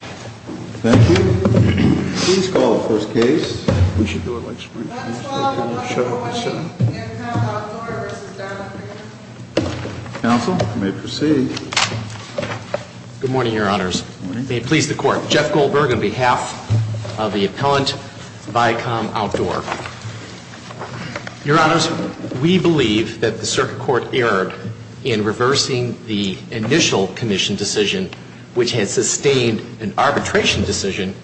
Thank you. Please call the first case. We should do it like Springfield. Let's call the first case, Viacom Outdoor v. Donald Green. Counsel, you may proceed. Good morning, Your Honors. May it please the Court. Jeff Goldberg on behalf of the appellant, Viacom Outdoor. Your Honors, we believe that the circuit court erred in reversing the initial commission decision, which had sustained an arbitration decision,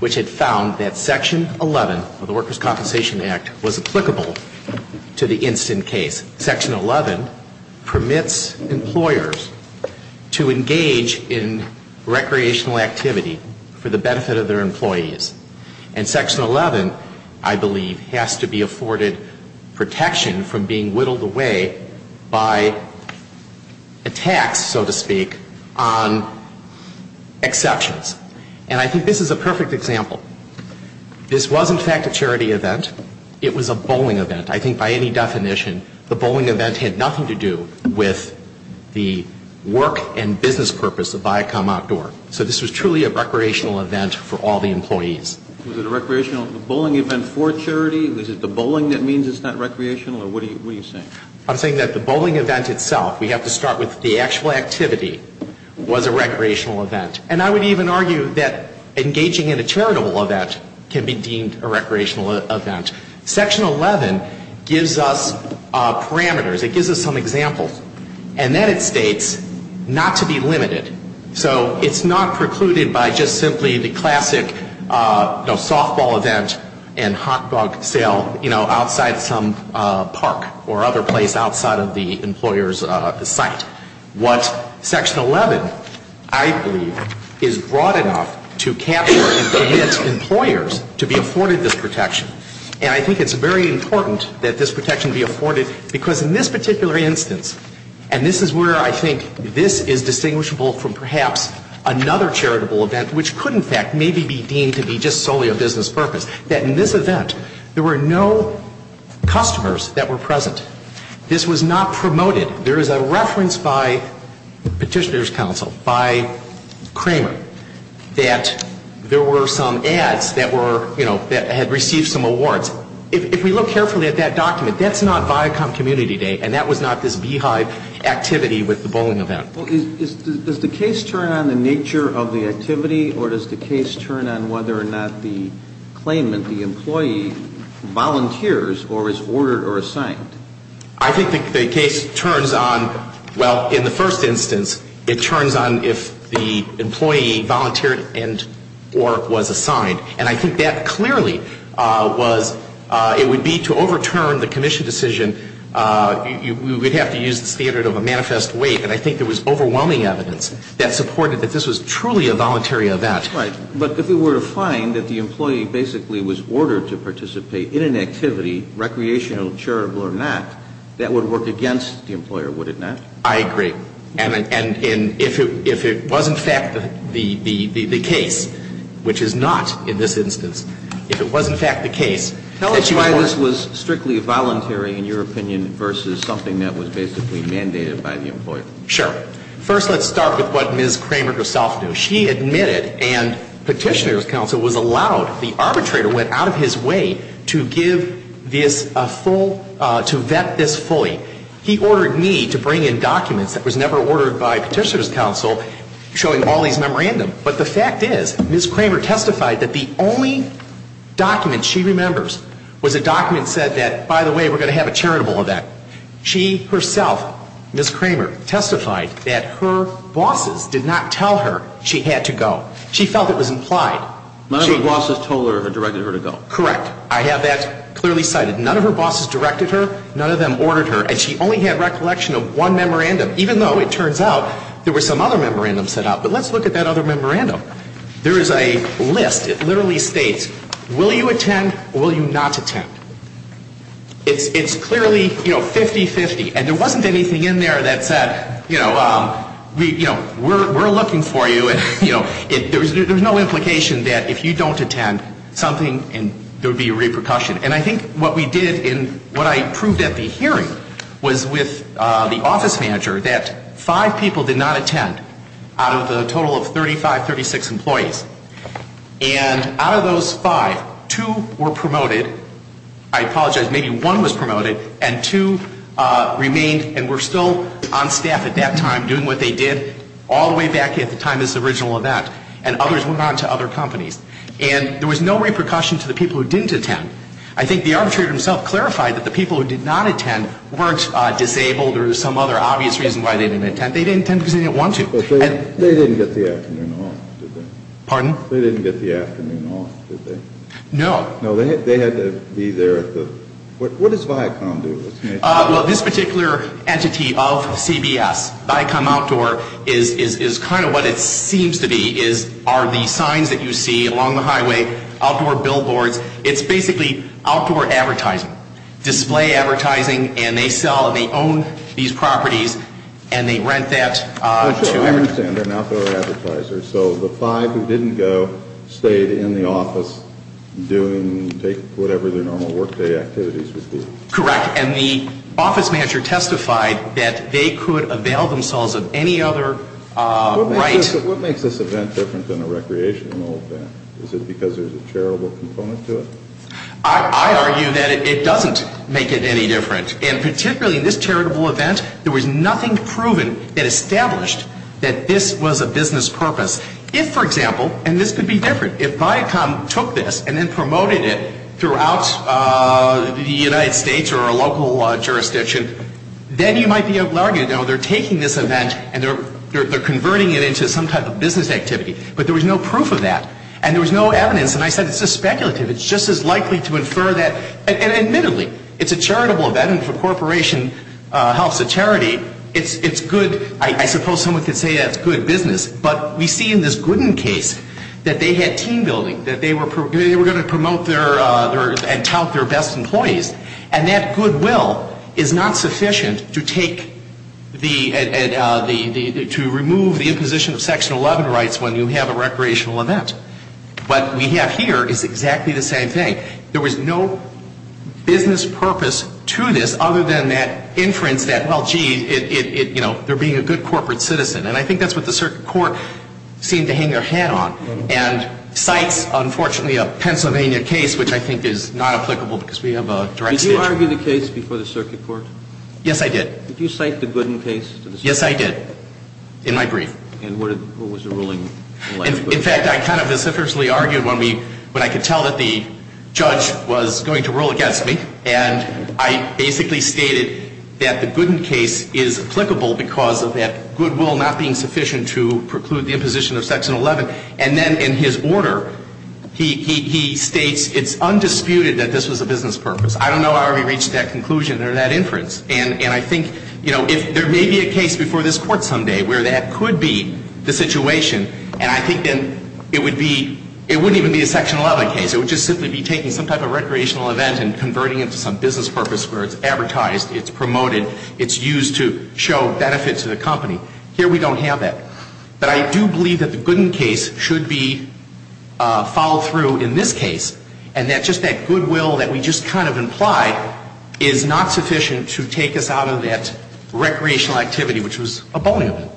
which had found that Section 11 of the Workers' Compensation Act was applicable to the instant case. Section 11 permits employers to engage in recreational activity for the benefit of their employees. And Section 11, I believe, has to be afforded protection from being whittled away by attacks, so to speak, on exceptions. And I think this is a perfect example. This was, in fact, a charity event. It was a bowling event. I think by any definition, the bowling event had nothing to do with the work and business purpose of Viacom Outdoor. So this was truly a recreational event for all the employees. Was it a recreational bowling event for charity? Was it the bowling that means it's not recreational? Or what are you saying? I'm saying that the bowling event itself, we have to start with the actual activity, was a recreational event. And I would even argue that engaging in a charitable event can be deemed a recreational event. Section 11 gives us parameters. It gives us some examples. And then it states not to be limited. So it's not precluded by just simply the classic softball event and hot dog sale, you know, outside some park or other place outside of the employer's site. What Section 11, I believe, is broad enough to capture and permit employers to be afforded this protection. And I think it's very important that this protection be afforded because in this particular instance, and this is where I think this is distinguishable from perhaps another charitable event, which could, in fact, maybe be deemed to be just solely a business purpose, that in this event, there were no customers that were present. This was not promoted. There is a reference by Petitioner's Council, by Kramer, that there were some ads that were, you know, that had received some awards. If we look carefully at that document, that's not Viacom Community Day, and that was not this beehive activity with the bowling event. Does the case turn on the nature of the activity, or does the case turn on whether or not the claimant, the employee, volunteers or is ordered or assigned? I think the case turns on, well, in the first instance, it turns on if the employee volunteered and or was assigned. And I think that clearly was, it would be to overturn the commission decision, you would have to use the standard of a manifest wait. And I think there was overwhelming evidence that supported that this was truly a voluntary event. Right. But if it were to find that the employee basically was ordered to participate in an activity, recreational, charitable or not, that would work against the employer, would it not? I agree. And if it was, in fact, the case, which is not in this instance, if it was, in fact, the case, that you were Why this was strictly voluntary, in your opinion, versus something that was basically mandated by the employer? Sure. First, let's start with what Ms. Kramer herself knew. She admitted and Petitioner's Counsel was allowed, the arbitrator went out of his way to give this a full, to vet this fully. He ordered me to bring in documents that was never ordered by Petitioner's Counsel showing all these memorandums. But the fact is, Ms. Kramer testified that the only document she remembers was a document said that, by the way, we're going to have a charitable event. She herself, Ms. Kramer, testified that her bosses did not tell her she had to go. She felt it was implied. None of her bosses told her or directed her to go. Correct. I have that clearly cited. None of her bosses directed her. None of them ordered her. And she only had recollection of one memorandum, even though it turns out there were some other memorandums set out. But let's look at that other memorandum. There is a list. It literally states, will you attend or will you not attend? It's clearly, you know, 50-50. And there wasn't anything in there that said, you know, we're looking for you. You know, there's no implication that if you don't attend, something, there would be a repercussion. And I think what we did in what I proved at the hearing was with the office manager that five people did not attend out of the total of 35, 36 employees. And out of those five, two were promoted. I apologize. Maybe one was promoted. And two remained and were still on staff at that time doing what they did all the way back at the time of this original event. And others went on to other companies. And there was no repercussion to the people who didn't attend. I think the arbitrator himself clarified that the people who did not attend weren't disabled or some other obvious reason why they didn't attend. They didn't attend because they didn't want to. But they didn't get the afternoon off, did they? Pardon? They didn't get the afternoon off, did they? No. No, they had to be there at the, what does Viacom do? Well, this particular entity of CBS, Viacom Outdoor, is kind of what it seems to be, are the signs that you see along the highway, outdoor billboards. It's basically outdoor advertising, display advertising. And they sell and they own these properties. And they rent that. I understand. They're an outdoor advertiser. So the five who didn't go stayed in the office doing whatever their normal workday activities would be. Correct. And the office manager testified that they could avail themselves of any other right. What makes this event different than a recreational event? Is it because there's a charitable component to it? I argue that it doesn't make it any different. And particularly in this charitable event, there was nothing proven that established that this was a business purpose. If, for example, and this could be different, if Viacom took this and then promoted it throughout the United States or a local jurisdiction, then you might be arguing, oh, they're taking this event and they're converting it into some type of business activity. But there was no proof of that. And there was no evidence. And I said, it's just speculative. It's just as likely to infer that. And admittedly, it's a charitable event. And if a corporation helps a charity, it's good. I suppose someone could say that's good business. But we see in this Gooden case that they had team building, that they were going to promote and tout their best employees. And that goodwill is not sufficient to remove the imposition of Section 11 rights when you have a recreational event. What we have here is exactly the same thing. There was no business purpose to this other than that inference that, well, gee, they're being a good corporate citizen. And I think that's what the circuit court seemed to hang their hat on and cites, unfortunately, a Pennsylvania case, which I think is not applicable because we have a direct statute. Did you argue the case before the circuit court? Yes, I did. Did you cite the Gooden case to the circuit court? Yes, I did, in my brief. And what was the ruling? In fact, I kind of vociferously argued when I could tell that the judge was going to rule against me. And I basically stated that the Gooden case is applicable because of that goodwill not being sufficient to preclude the imposition of Section 11. And then in his order, he states it's undisputed that this was a business purpose. I don't know how he reached that conclusion or that inference. And I think, you know, there may be a case before this Court someday where that could be the situation. And I think then it would be – it wouldn't even be a Section 11 case. It would just simply be taking some type of recreational event and converting it to some business purpose where it's advertised, it's promoted, it's used to show benefits to the company. Here we don't have that. But I do believe that the Gooden case should be followed through in this case, and that just that goodwill that we just kind of implied is not sufficient to take us out of that recreational activity, which was abominable.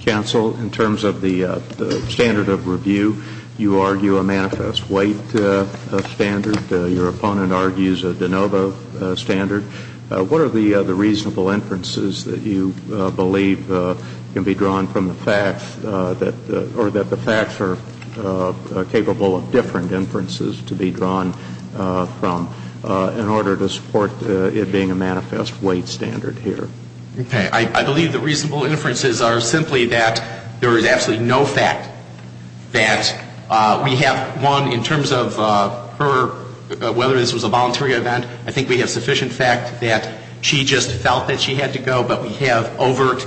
Counsel, in terms of the standard of review, you argue a manifest weight standard. Your opponent argues a de novo standard. What are the reasonable inferences that you believe can be drawn from the facts that – or that the facts are capable of different inferences to be drawn from in order to support it being a manifest weight standard here? Okay. I believe the reasonable inferences are simply that there is absolutely no fact that we have, one, in terms of her – whether this was a voluntary event, I think we have sufficient fact that she just felt that she had to go, but we have overt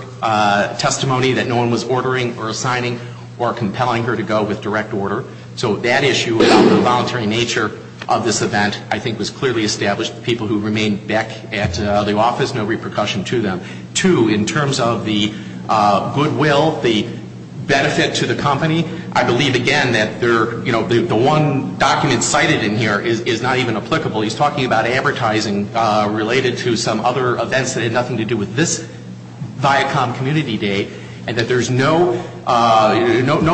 testimony that no one was ordering or assigning or compelling her to go with direct order. So that issue about the voluntary nature of this event I think was clearly established. People who remained back at the office, no repercussion to them. Two, in terms of the goodwill, the benefit to the company, I believe, again, that there – you know, the one document cited in here is not even applicable. He's talking about advertising related to some other events that had nothing to do with this Viacom Community Day, and that there's no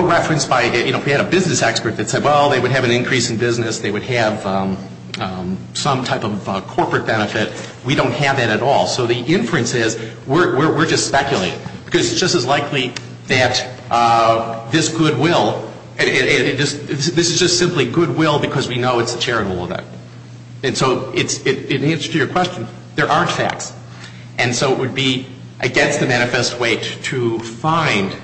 reference by – you know, if we had a business expert that said, well, they would have an increase in business, they would have some type of corporate benefit, we don't have that at all. So the inference is we're just speculating because it's just as likely that this goodwill – this is just simply goodwill because we know it's a charitable event. And so in answer to your question, there aren't facts. And so it would be against the manifest weight to find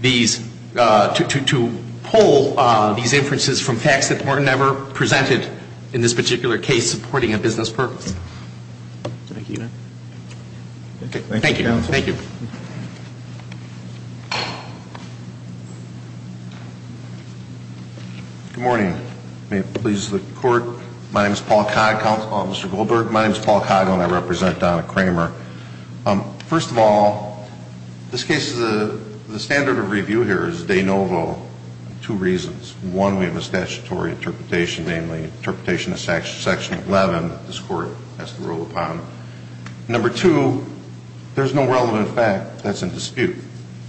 these – to pull these inferences from facts that were never presented in this particular case supporting a business purpose. Thank you, Your Honor. Thank you. Thank you, Counsel. Good morning. May it please the Court. Mr. Goldberg, my name is Paul Coggle, and I represent Donna Kramer. First of all, this case is a – the standard of review here is de novo for two reasons. One, we have a statutory interpretation, namely interpretation of Section 11 that this Court has to rule upon. Number two, there's no relevant fact that's in dispute.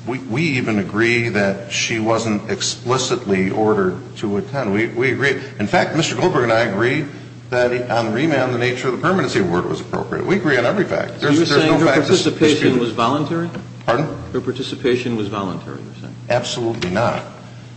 We even agree that she wasn't explicitly ordered to attend. We agree. In fact, Mr. Goldberg and I agree that on remand the nature of the permanency award was appropriate. We agree on every fact. So you're saying her participation was voluntary? Pardon? Her participation was voluntary, you're saying? Absolutely not.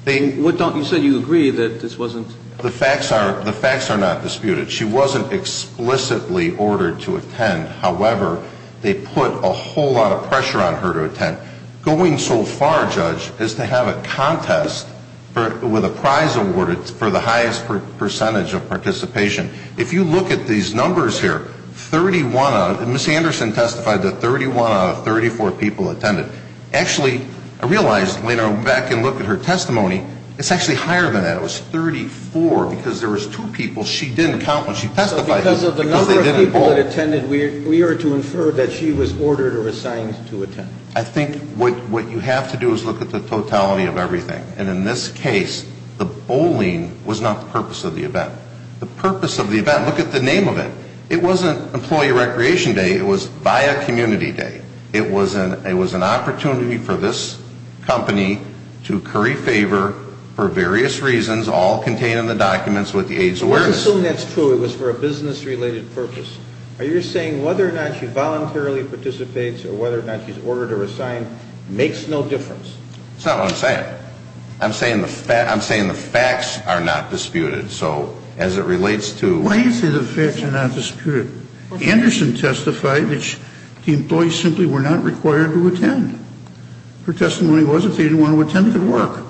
They – You said you agree that this wasn't – The facts are – the facts are not disputed. However, they put a whole lot of pressure on her to attend. Going so far, Judge, is to have a contest with a prize awarded for the highest percentage of participation. If you look at these numbers here, 31 out of – Ms. Anderson testified that 31 out of 34 people attended. Actually, I realized when I went back and looked at her testimony, it's actually higher than that. It was 34 because there was two people. She didn't count when she testified. So because of the number of people that attended, we are to infer that she was ordered or assigned to attend. I think what you have to do is look at the totality of everything. And in this case, the bowling was not the purpose of the event. The purpose of the event – look at the name of it. It wasn't Employee Recreation Day. It was VIA Community Day. It was an opportunity for this company to curry favor for various reasons, all contained in the documents with the AIDS awareness. I'm assuming that's true. It was for a business-related purpose. Are you saying whether or not she voluntarily participates or whether or not she's ordered or assigned makes no difference? That's not what I'm saying. I'm saying the facts are not disputed. So as it relates to – Why do you say the facts are not disputed? Anderson testified that the employees simply were not required to attend. Her testimony was if they didn't want to attend, it would work.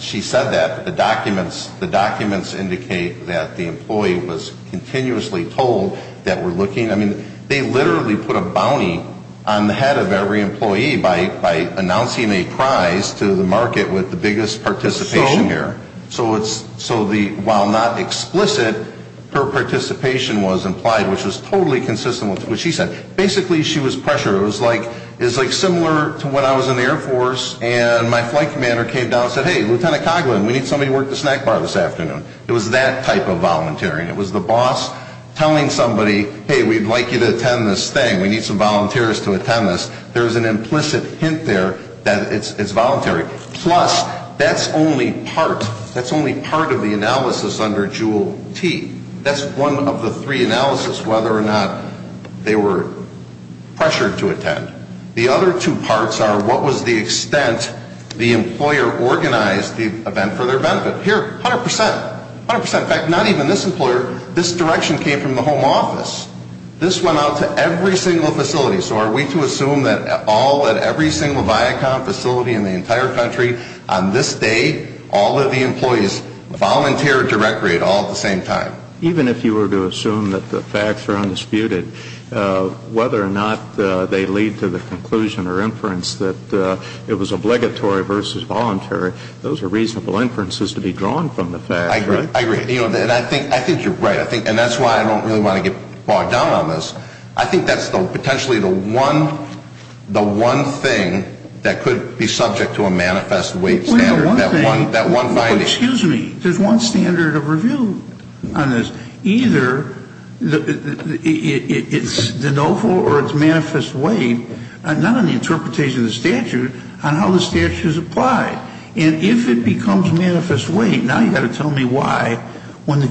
She said that the documents indicate that the employee was continuously told that we're looking – I mean, they literally put a bounty on the head of every employee by announcing a prize to the market with the biggest participation here. So while not explicit, her participation was implied, which was totally consistent with what she said. Basically, she was pressured. It was like – it was like similar to when I was in the Air Force and my flight commander came down and said, hey, Lieutenant Coghlan, we need somebody to work the snack bar this afternoon. It was that type of volunteering. It was the boss telling somebody, hey, we'd like you to attend this thing. We need some volunteers to attend this. There's an implicit hint there that it's voluntary. Plus, that's only part – that's only part of the analysis under JUUL T. That's one of the three analyses, whether or not they were pressured to attend. The other two parts are what was the extent the employer organized the event for their benefit. Here, 100 percent. 100 percent. In fact, not even this employer – this direction came from the home office. This went out to every single facility. So are we to assume that all – that every single Viacom facility in the entire country, on this day, all of the employees volunteered directly at all at the same time? Even if you were to assume that the facts are undisputed, whether or not they lead to the conclusion or inference that it was obligatory versus voluntary, those are reasonable inferences to be drawn from the facts, right? I agree. And I think you're right. And that's why I don't really want to get bogged down on this. I think that's potentially the one thing that could be subject to a manifest weight standard, that one finding. Excuse me. There's one standard of review on this. Either it's de novo or it's manifest weight, not on the interpretation of the statute, on how the statute is applied. And if it becomes manifest weight – now you've got to tell me why – That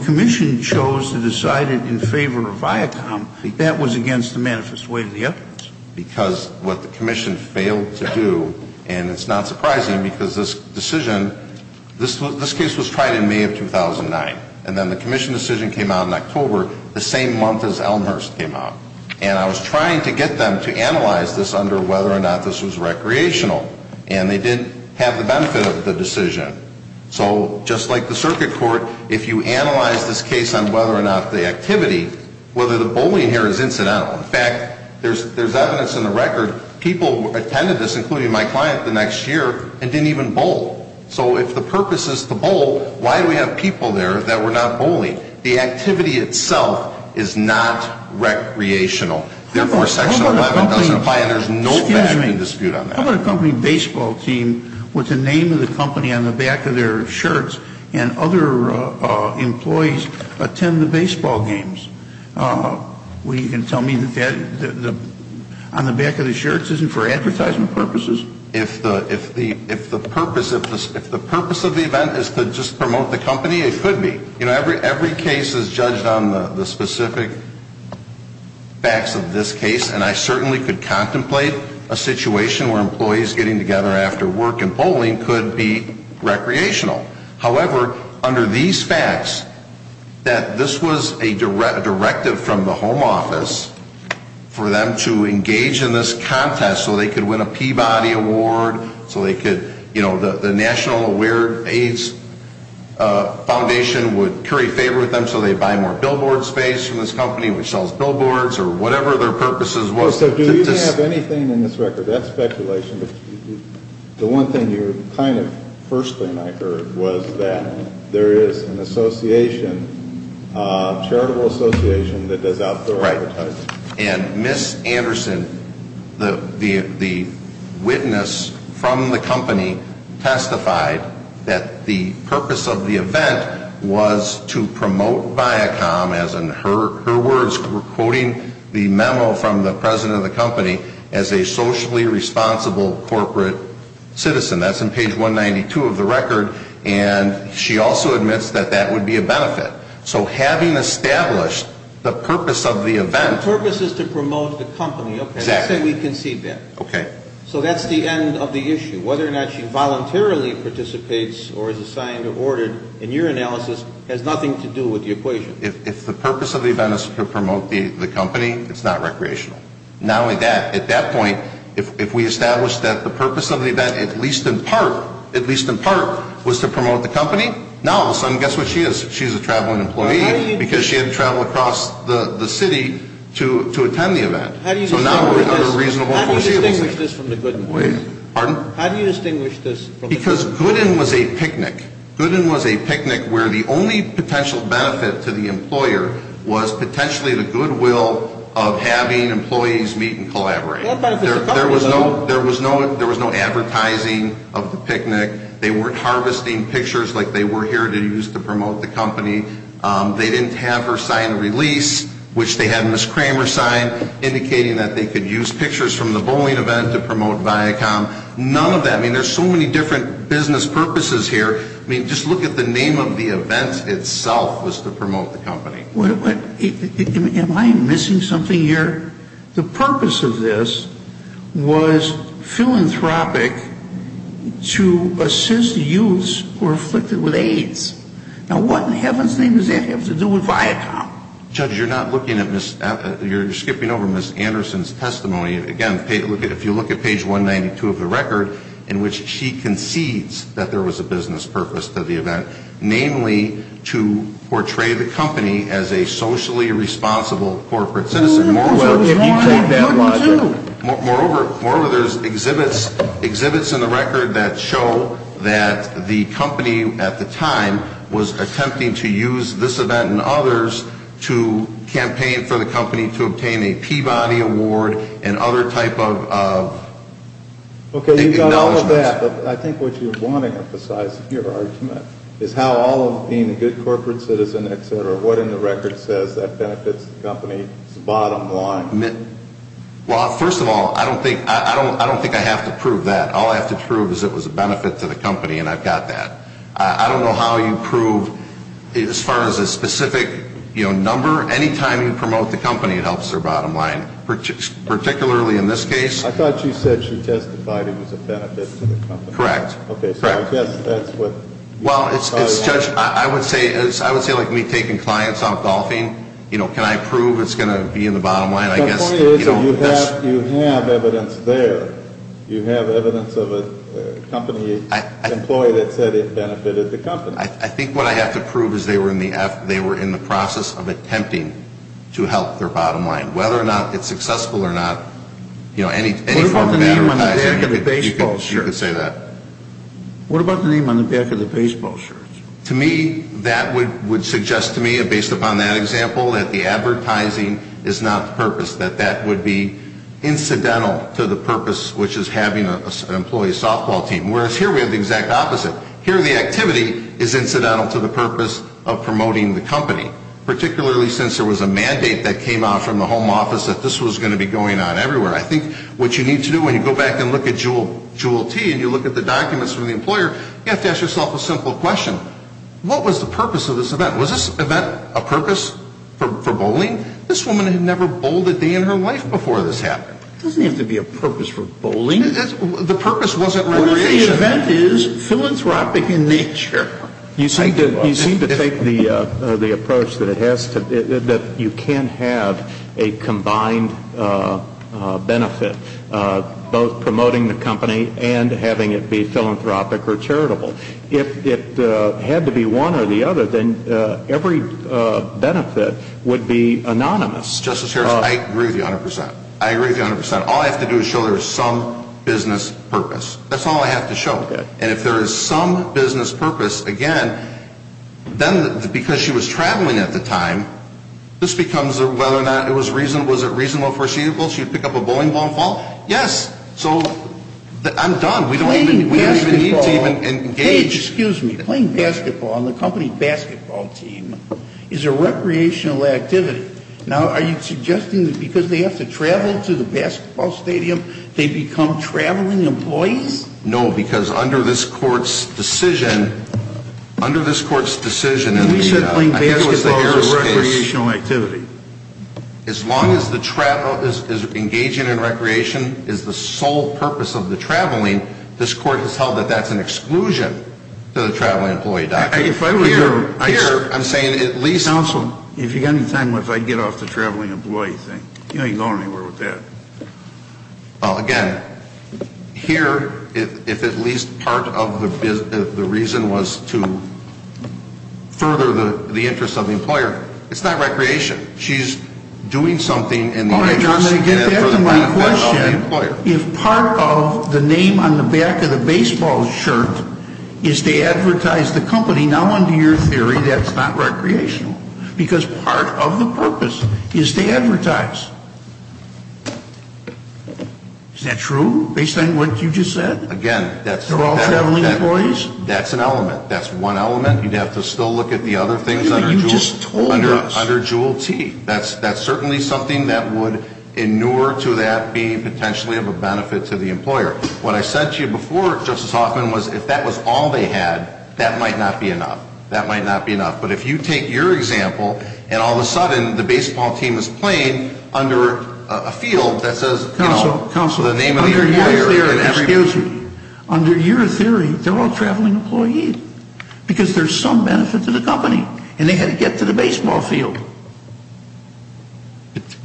was against the manifest weight of the evidence. Because what the Commission failed to do – and it's not surprising because this decision – this case was tried in May of 2009. And then the Commission decision came out in October, the same month as Elmhurst came out. And I was trying to get them to analyze this under whether or not this was recreational. And they didn't have the benefit of the decision. So just like the circuit court, if you analyze this case on whether or not the activity, whether the bullying here is incidental. In fact, there's evidence in the record, people attended this, including my client, the next year and didn't even bowl. So if the purpose is to bowl, why do we have people there that were not bowling? The activity itself is not recreational. Therefore, Section 11 doesn't apply and there's no fact and dispute on that. How about a company baseball team with the name of the company on the back of their shirts and other employees attend the baseball games? Well, you can tell me that on the back of the shirts isn't for advertisement purposes. If the purpose of the event is to just promote the company, it could be. You know, every case is judged on the specific facts of this case. And I certainly could contemplate a situation where employees getting together after work and bowling could be recreational. However, under these facts, that this was a directive from the home office for them to engage in this contest so they could win a Peabody Award, so they could, you know, the National Aware Aids Foundation would carry favor with them, so they'd buy more billboard space from this company which sells billboards or whatever their purposes was. So do you have anything in this record? That's speculation. The one thing you kind of first thing I heard was that there is an association, a charitable association that does outdoor advertising. And Ms. Anderson, the witness from the company, testified that the purpose of the event was to promote Viacom, as in her words, we're quoting the memo from the president of the company, as a socially responsible corporate citizen. That's in page 192 of the record. And she also admits that that would be a benefit. So having established the purpose of the event. The purpose is to promote the company. Exactly. Let's say we concede that. Okay. So that's the end of the issue. Whether or not she voluntarily participates or is assigned or ordered in your analysis has nothing to do with the equation. If the purpose of the event is to promote the company, it's not recreational. Not only that, at that point, if we establish that the purpose of the event, at least in part, at least in part, was to promote the company, now all of a sudden, guess what she is? She's a traveling employee because she had to travel across the city to attend the event. How do you distinguish this from the Gooden? Pardon? How do you distinguish this from the Gooden? Because Gooden was a picnic. Gooden was a picnic where the only potential benefit to the employer was potentially the goodwill of having employees meet and collaborate. There was no advertising of the picnic. They weren't harvesting pictures like they were here to use to promote the company. They didn't have her sign a release, which they had Ms. Kramer sign, indicating that they could use pictures from the bowling event to promote Viacom. None of that. I mean, there's so many different business purposes here. I mean, just look at the name of the event itself was to promote the company. Am I missing something here? The purpose of this was philanthropic to assist the youths who were afflicted with AIDS. Now, what in heaven's name does that have to do with Viacom? Judge, you're not looking at Ms. — you're skipping over Ms. Anderson's testimony. Again, if you look at page 192 of the record in which she concedes that there was a business purpose to the event, namely to portray the company as a socially responsible corporate citizen. Moreover, there's exhibits in the record that show that the company at the time was attempting to use this event and others to campaign for the company to obtain a Peabody Award and other type of acknowledgments. Okay, you've got all of that, but I think what you're wanting to emphasize in your argument is how all of being a good corporate citizen, et cetera, what in the record says that benefits the company is the bottom line? Well, first of all, I don't think I have to prove that. All I have to prove is it was a benefit to the company, and I've got that. I don't know how you prove as far as a specific number. Any time you promote the company, it helps their bottom line, particularly in this case. I thought you said she testified it was a benefit to the company. Correct. Okay, so I guess that's what — Well, Judge, I would say like me taking clients out golfing, you know, can I prove it's going to be in the bottom line? The point is you have evidence there. You have evidence of a company employee that said it benefited the company. I think what I have to prove is they were in the process of attempting to help their bottom line. Whether or not it's successful or not, you know, any form of advertising — You could say that. To me, that would suggest to me, based upon that example, that the advertising is not the purpose, that that would be incidental to the purpose, which is having an employee softball team, whereas here we have the exact opposite. Here the activity is incidental to the purpose of promoting the company, particularly since there was a mandate that came out from the home office that this was going to be going on everywhere. I think what you need to do when you go back and look at Jewel T and you look at the documents from the employer, you have to ask yourself a simple question. What was the purpose of this event? Was this event a purpose for bowling? This woman had never bowled a day in her life before this happened. It doesn't have to be a purpose for bowling. The purpose wasn't recreation. I think the event is philanthropic in nature. You seem to take the approach that you can have a combined benefit, both promoting the company and having it be philanthropic or charitable. If it had to be one or the other, then every benefit would be anonymous. Justice Harris, I agree with you 100%. I agree with you 100%. All I have to do is show there is some business purpose. That's all I have to show. And if there is some business purpose, again, then because she was traveling at the time, this becomes whether or not it was reasonable. Was it reasonable for her to pick up a bowling ball and fall? Yes. So I'm done. We don't even need to even engage. Hey, excuse me. Playing basketball on the company's basketball team is a recreational activity. Now, are you suggesting that because they have to travel to the basketball stadium, they become traveling employees? No, because under this court's decision, under this court's decision, I think it was the Harris case. As long as engaging in recreation is the sole purpose of the traveling, this court has held that that's an exclusion to the traveling employee doctrine. Counsel, if you've got any time left, I'd get off the traveling employee thing. You ain't going anywhere with that. Again, here, if at least part of the reason was to further the interest of the employer, it's not recreation. She's doing something in the interest and for the benefit of the employer. I'm going to get to my question. If part of the name on the back of the baseball shirt is to advertise the company, now under your theory, that's not recreational, because part of the purpose is to advertise. Is that true, based on what you just said? Again, that's an element. That's one element. You'd have to still look at the other things under Juul T. That's certainly something that would, in newer to that, be potentially of a benefit to the employer. What I said to you before, Justice Hoffman, was if that was all they had, that might not be enough. That might not be enough. But if you take your example, and all of a sudden, the baseball team is playing under a field that says, you know, the name of the employer. Counselor, under your theory, they're all traveling employees, because there's some benefit to the company. And they had to get to the baseball field.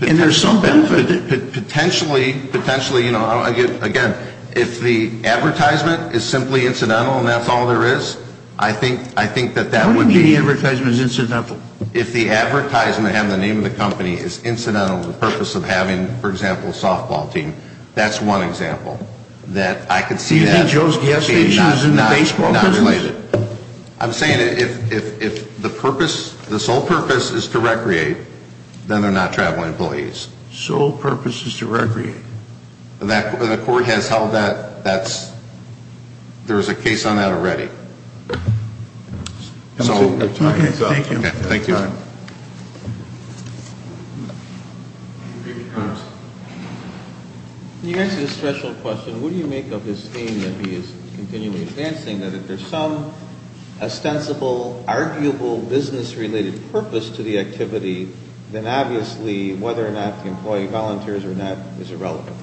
And there's some benefit. Potentially, again, if the advertisement is simply incidental and that's all there is, I think that that would be. What if the advertisement is incidental? If the advertisement, having the name of the company, is incidental, the purpose of having, for example, a softball team, that's one example. Do you think Joe's gas station is in the baseball business? Not related. I'm saying if the sole purpose is to recreate, then they're not traveling employees. Sole purpose is to recreate. The court has held that. There's a case on that already. Thank you. Thank you. Can you answer this special question? What do you make of his theme that he is continually advancing, that if there's some ostensible, arguable, business-related purpose to the activity, then obviously whether or not the employee volunteers or not is irrelevant.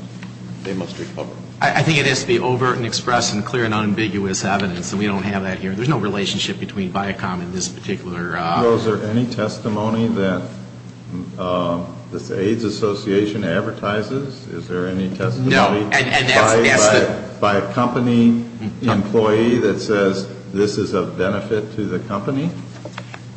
They must recover. I think it has to be overt and express and clear and unambiguous evidence. And we don't have that here. There's no relationship between Viacom and this particular. Well, is there any testimony that the AIDS Association advertises? Is there any testimony by a company employee that says this is of benefit to the company?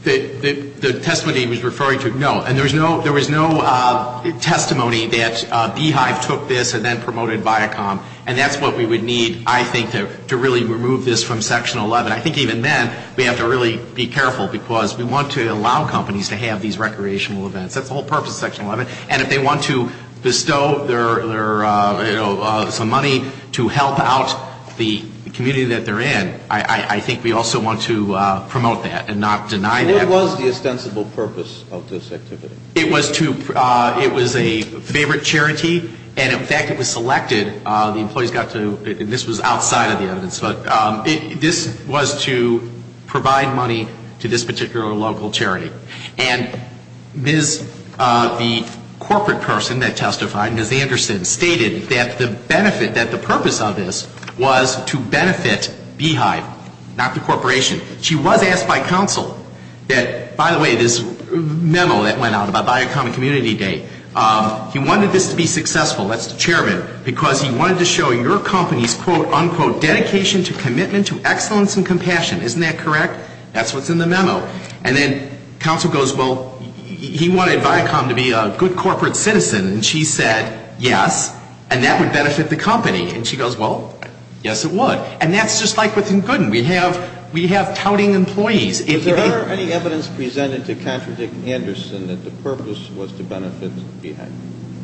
The testimony he was referring to, no. And there was no testimony that Beehive took this and then promoted Viacom. And that's what we would need, I think, to really remove this from Section 11. I think even then we have to really be careful, because we want to allow companies to have these recreational events. That's the whole purpose of Section 11. And if they want to bestow their, you know, some money to help out the community that they're in, I think we also want to promote that and not deny that. What was the ostensible purpose of this activity? It was to, it was a favorite charity. And, in fact, it was selected. The employees got to, and this was outside of the evidence, but this was to provide money to this particular local charity. And Ms., the corporate person that testified, Ms. Anderson, stated that the benefit, that the purpose of this was to benefit Beehive, not the corporation. She was asked by counsel that, by the way, this memo that went out about Viacom and Community Day, he wanted this to be successful, that's the chairman, because he wanted to show your company's, quote, unquote, dedication to commitment to excellence and compassion. Isn't that correct? That's what's in the memo. And then counsel goes, well, he wanted Viacom to be a good corporate citizen. And she said, yes, and that would benefit the company. And she goes, well, yes, it would. And that's just like within Goodman. We have touting employees. Is there any evidence presented to contradict Anderson that the purpose was to benefit Beehive?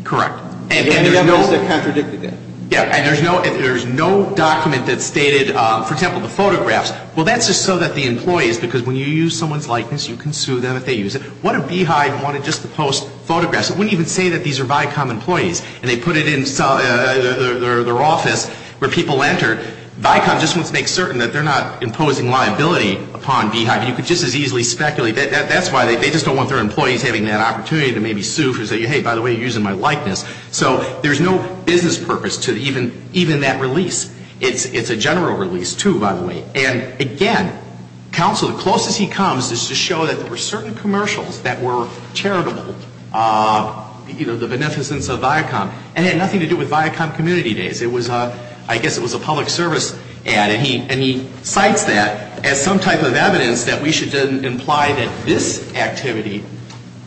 Correct. Any evidence that contradicted that? Yeah, and there's no document that stated, for example, the photographs. Well, that's just so that the employees, because when you use someone's likeness, you can sue them if they use it. What if Beehive wanted just to post photographs? It wouldn't even say that these are Viacom employees. And they put it in their office where people enter. Viacom just wants to make certain that they're not imposing liability upon Beehive. You could just as easily speculate. That's why they just don't want their employees having that opportunity to maybe sue for saying, hey, by the way, you're using my likeness. So there's no business purpose to even that release. It's a general release, too, by the way. And, again, counsel, the closest he comes is to show that there were certain commercials that were charitable, you know, the beneficence of Viacom. And it had nothing to do with Viacom Community Days. It was, I guess it was a public service ad. And he cites that as some type of evidence that we should imply that this activity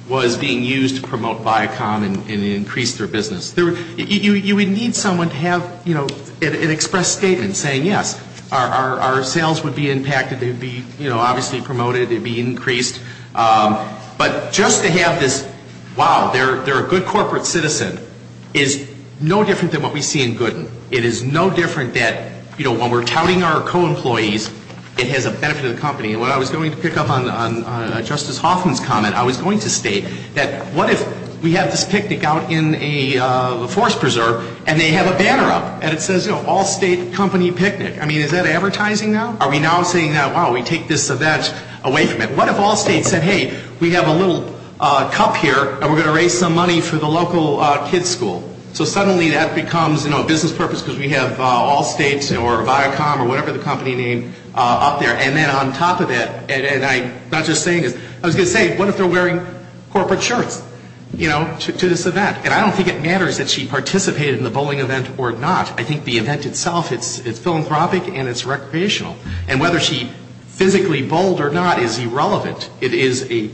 was being used to promote Viacom and increase their business. You would need someone to have, you know, an express statement saying, yes, our sales would be impacted. They would be, you know, obviously promoted. They would be increased. But just to have this, wow, they're a good corporate citizen is no different than what we see in Gooden. It is no different that, you know, when we're touting our co-employees, it has a benefit to the company. And what I was going to pick up on Justice Hoffman's comment, I was going to state that what if we have this picnic out in a forest preserve, and they have a banner up, and it says, you know, Allstate Company Picnic. I mean, is that advertising now? Are we now saying that, wow, we take this or that away from it? What if Allstate said, hey, we have a little cup here, and we're going to raise some money for the local kid's school? So suddenly that becomes, you know, a business purpose because we have Allstate or Viacom or whatever the company name up there. And then on top of that, and I'm not just saying this. I was going to say, what if they're wearing corporate shirts, you know, to this event? And I don't think it matters that she participated in the bowling event or not. I think the event itself, it's philanthropic, and it's recreational. And whether she physically bowled or not is irrelevant. It is a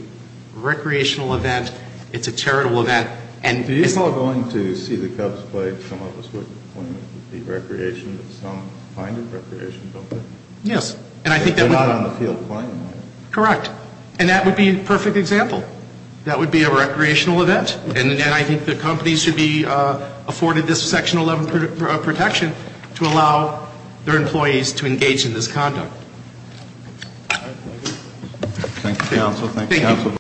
recreational event. It's a charitable event. And it's all going to see the Cubs play, some of us would claim it would be recreation, but some find it recreation, don't they? Yes. They're not on the field playing. Correct. And that would be a perfect example. That would be a recreational event. And I think the company should be afforded this Section 11 protection to allow their employees to engage in this conduct. Thank you, counsel. Thank you, counsel.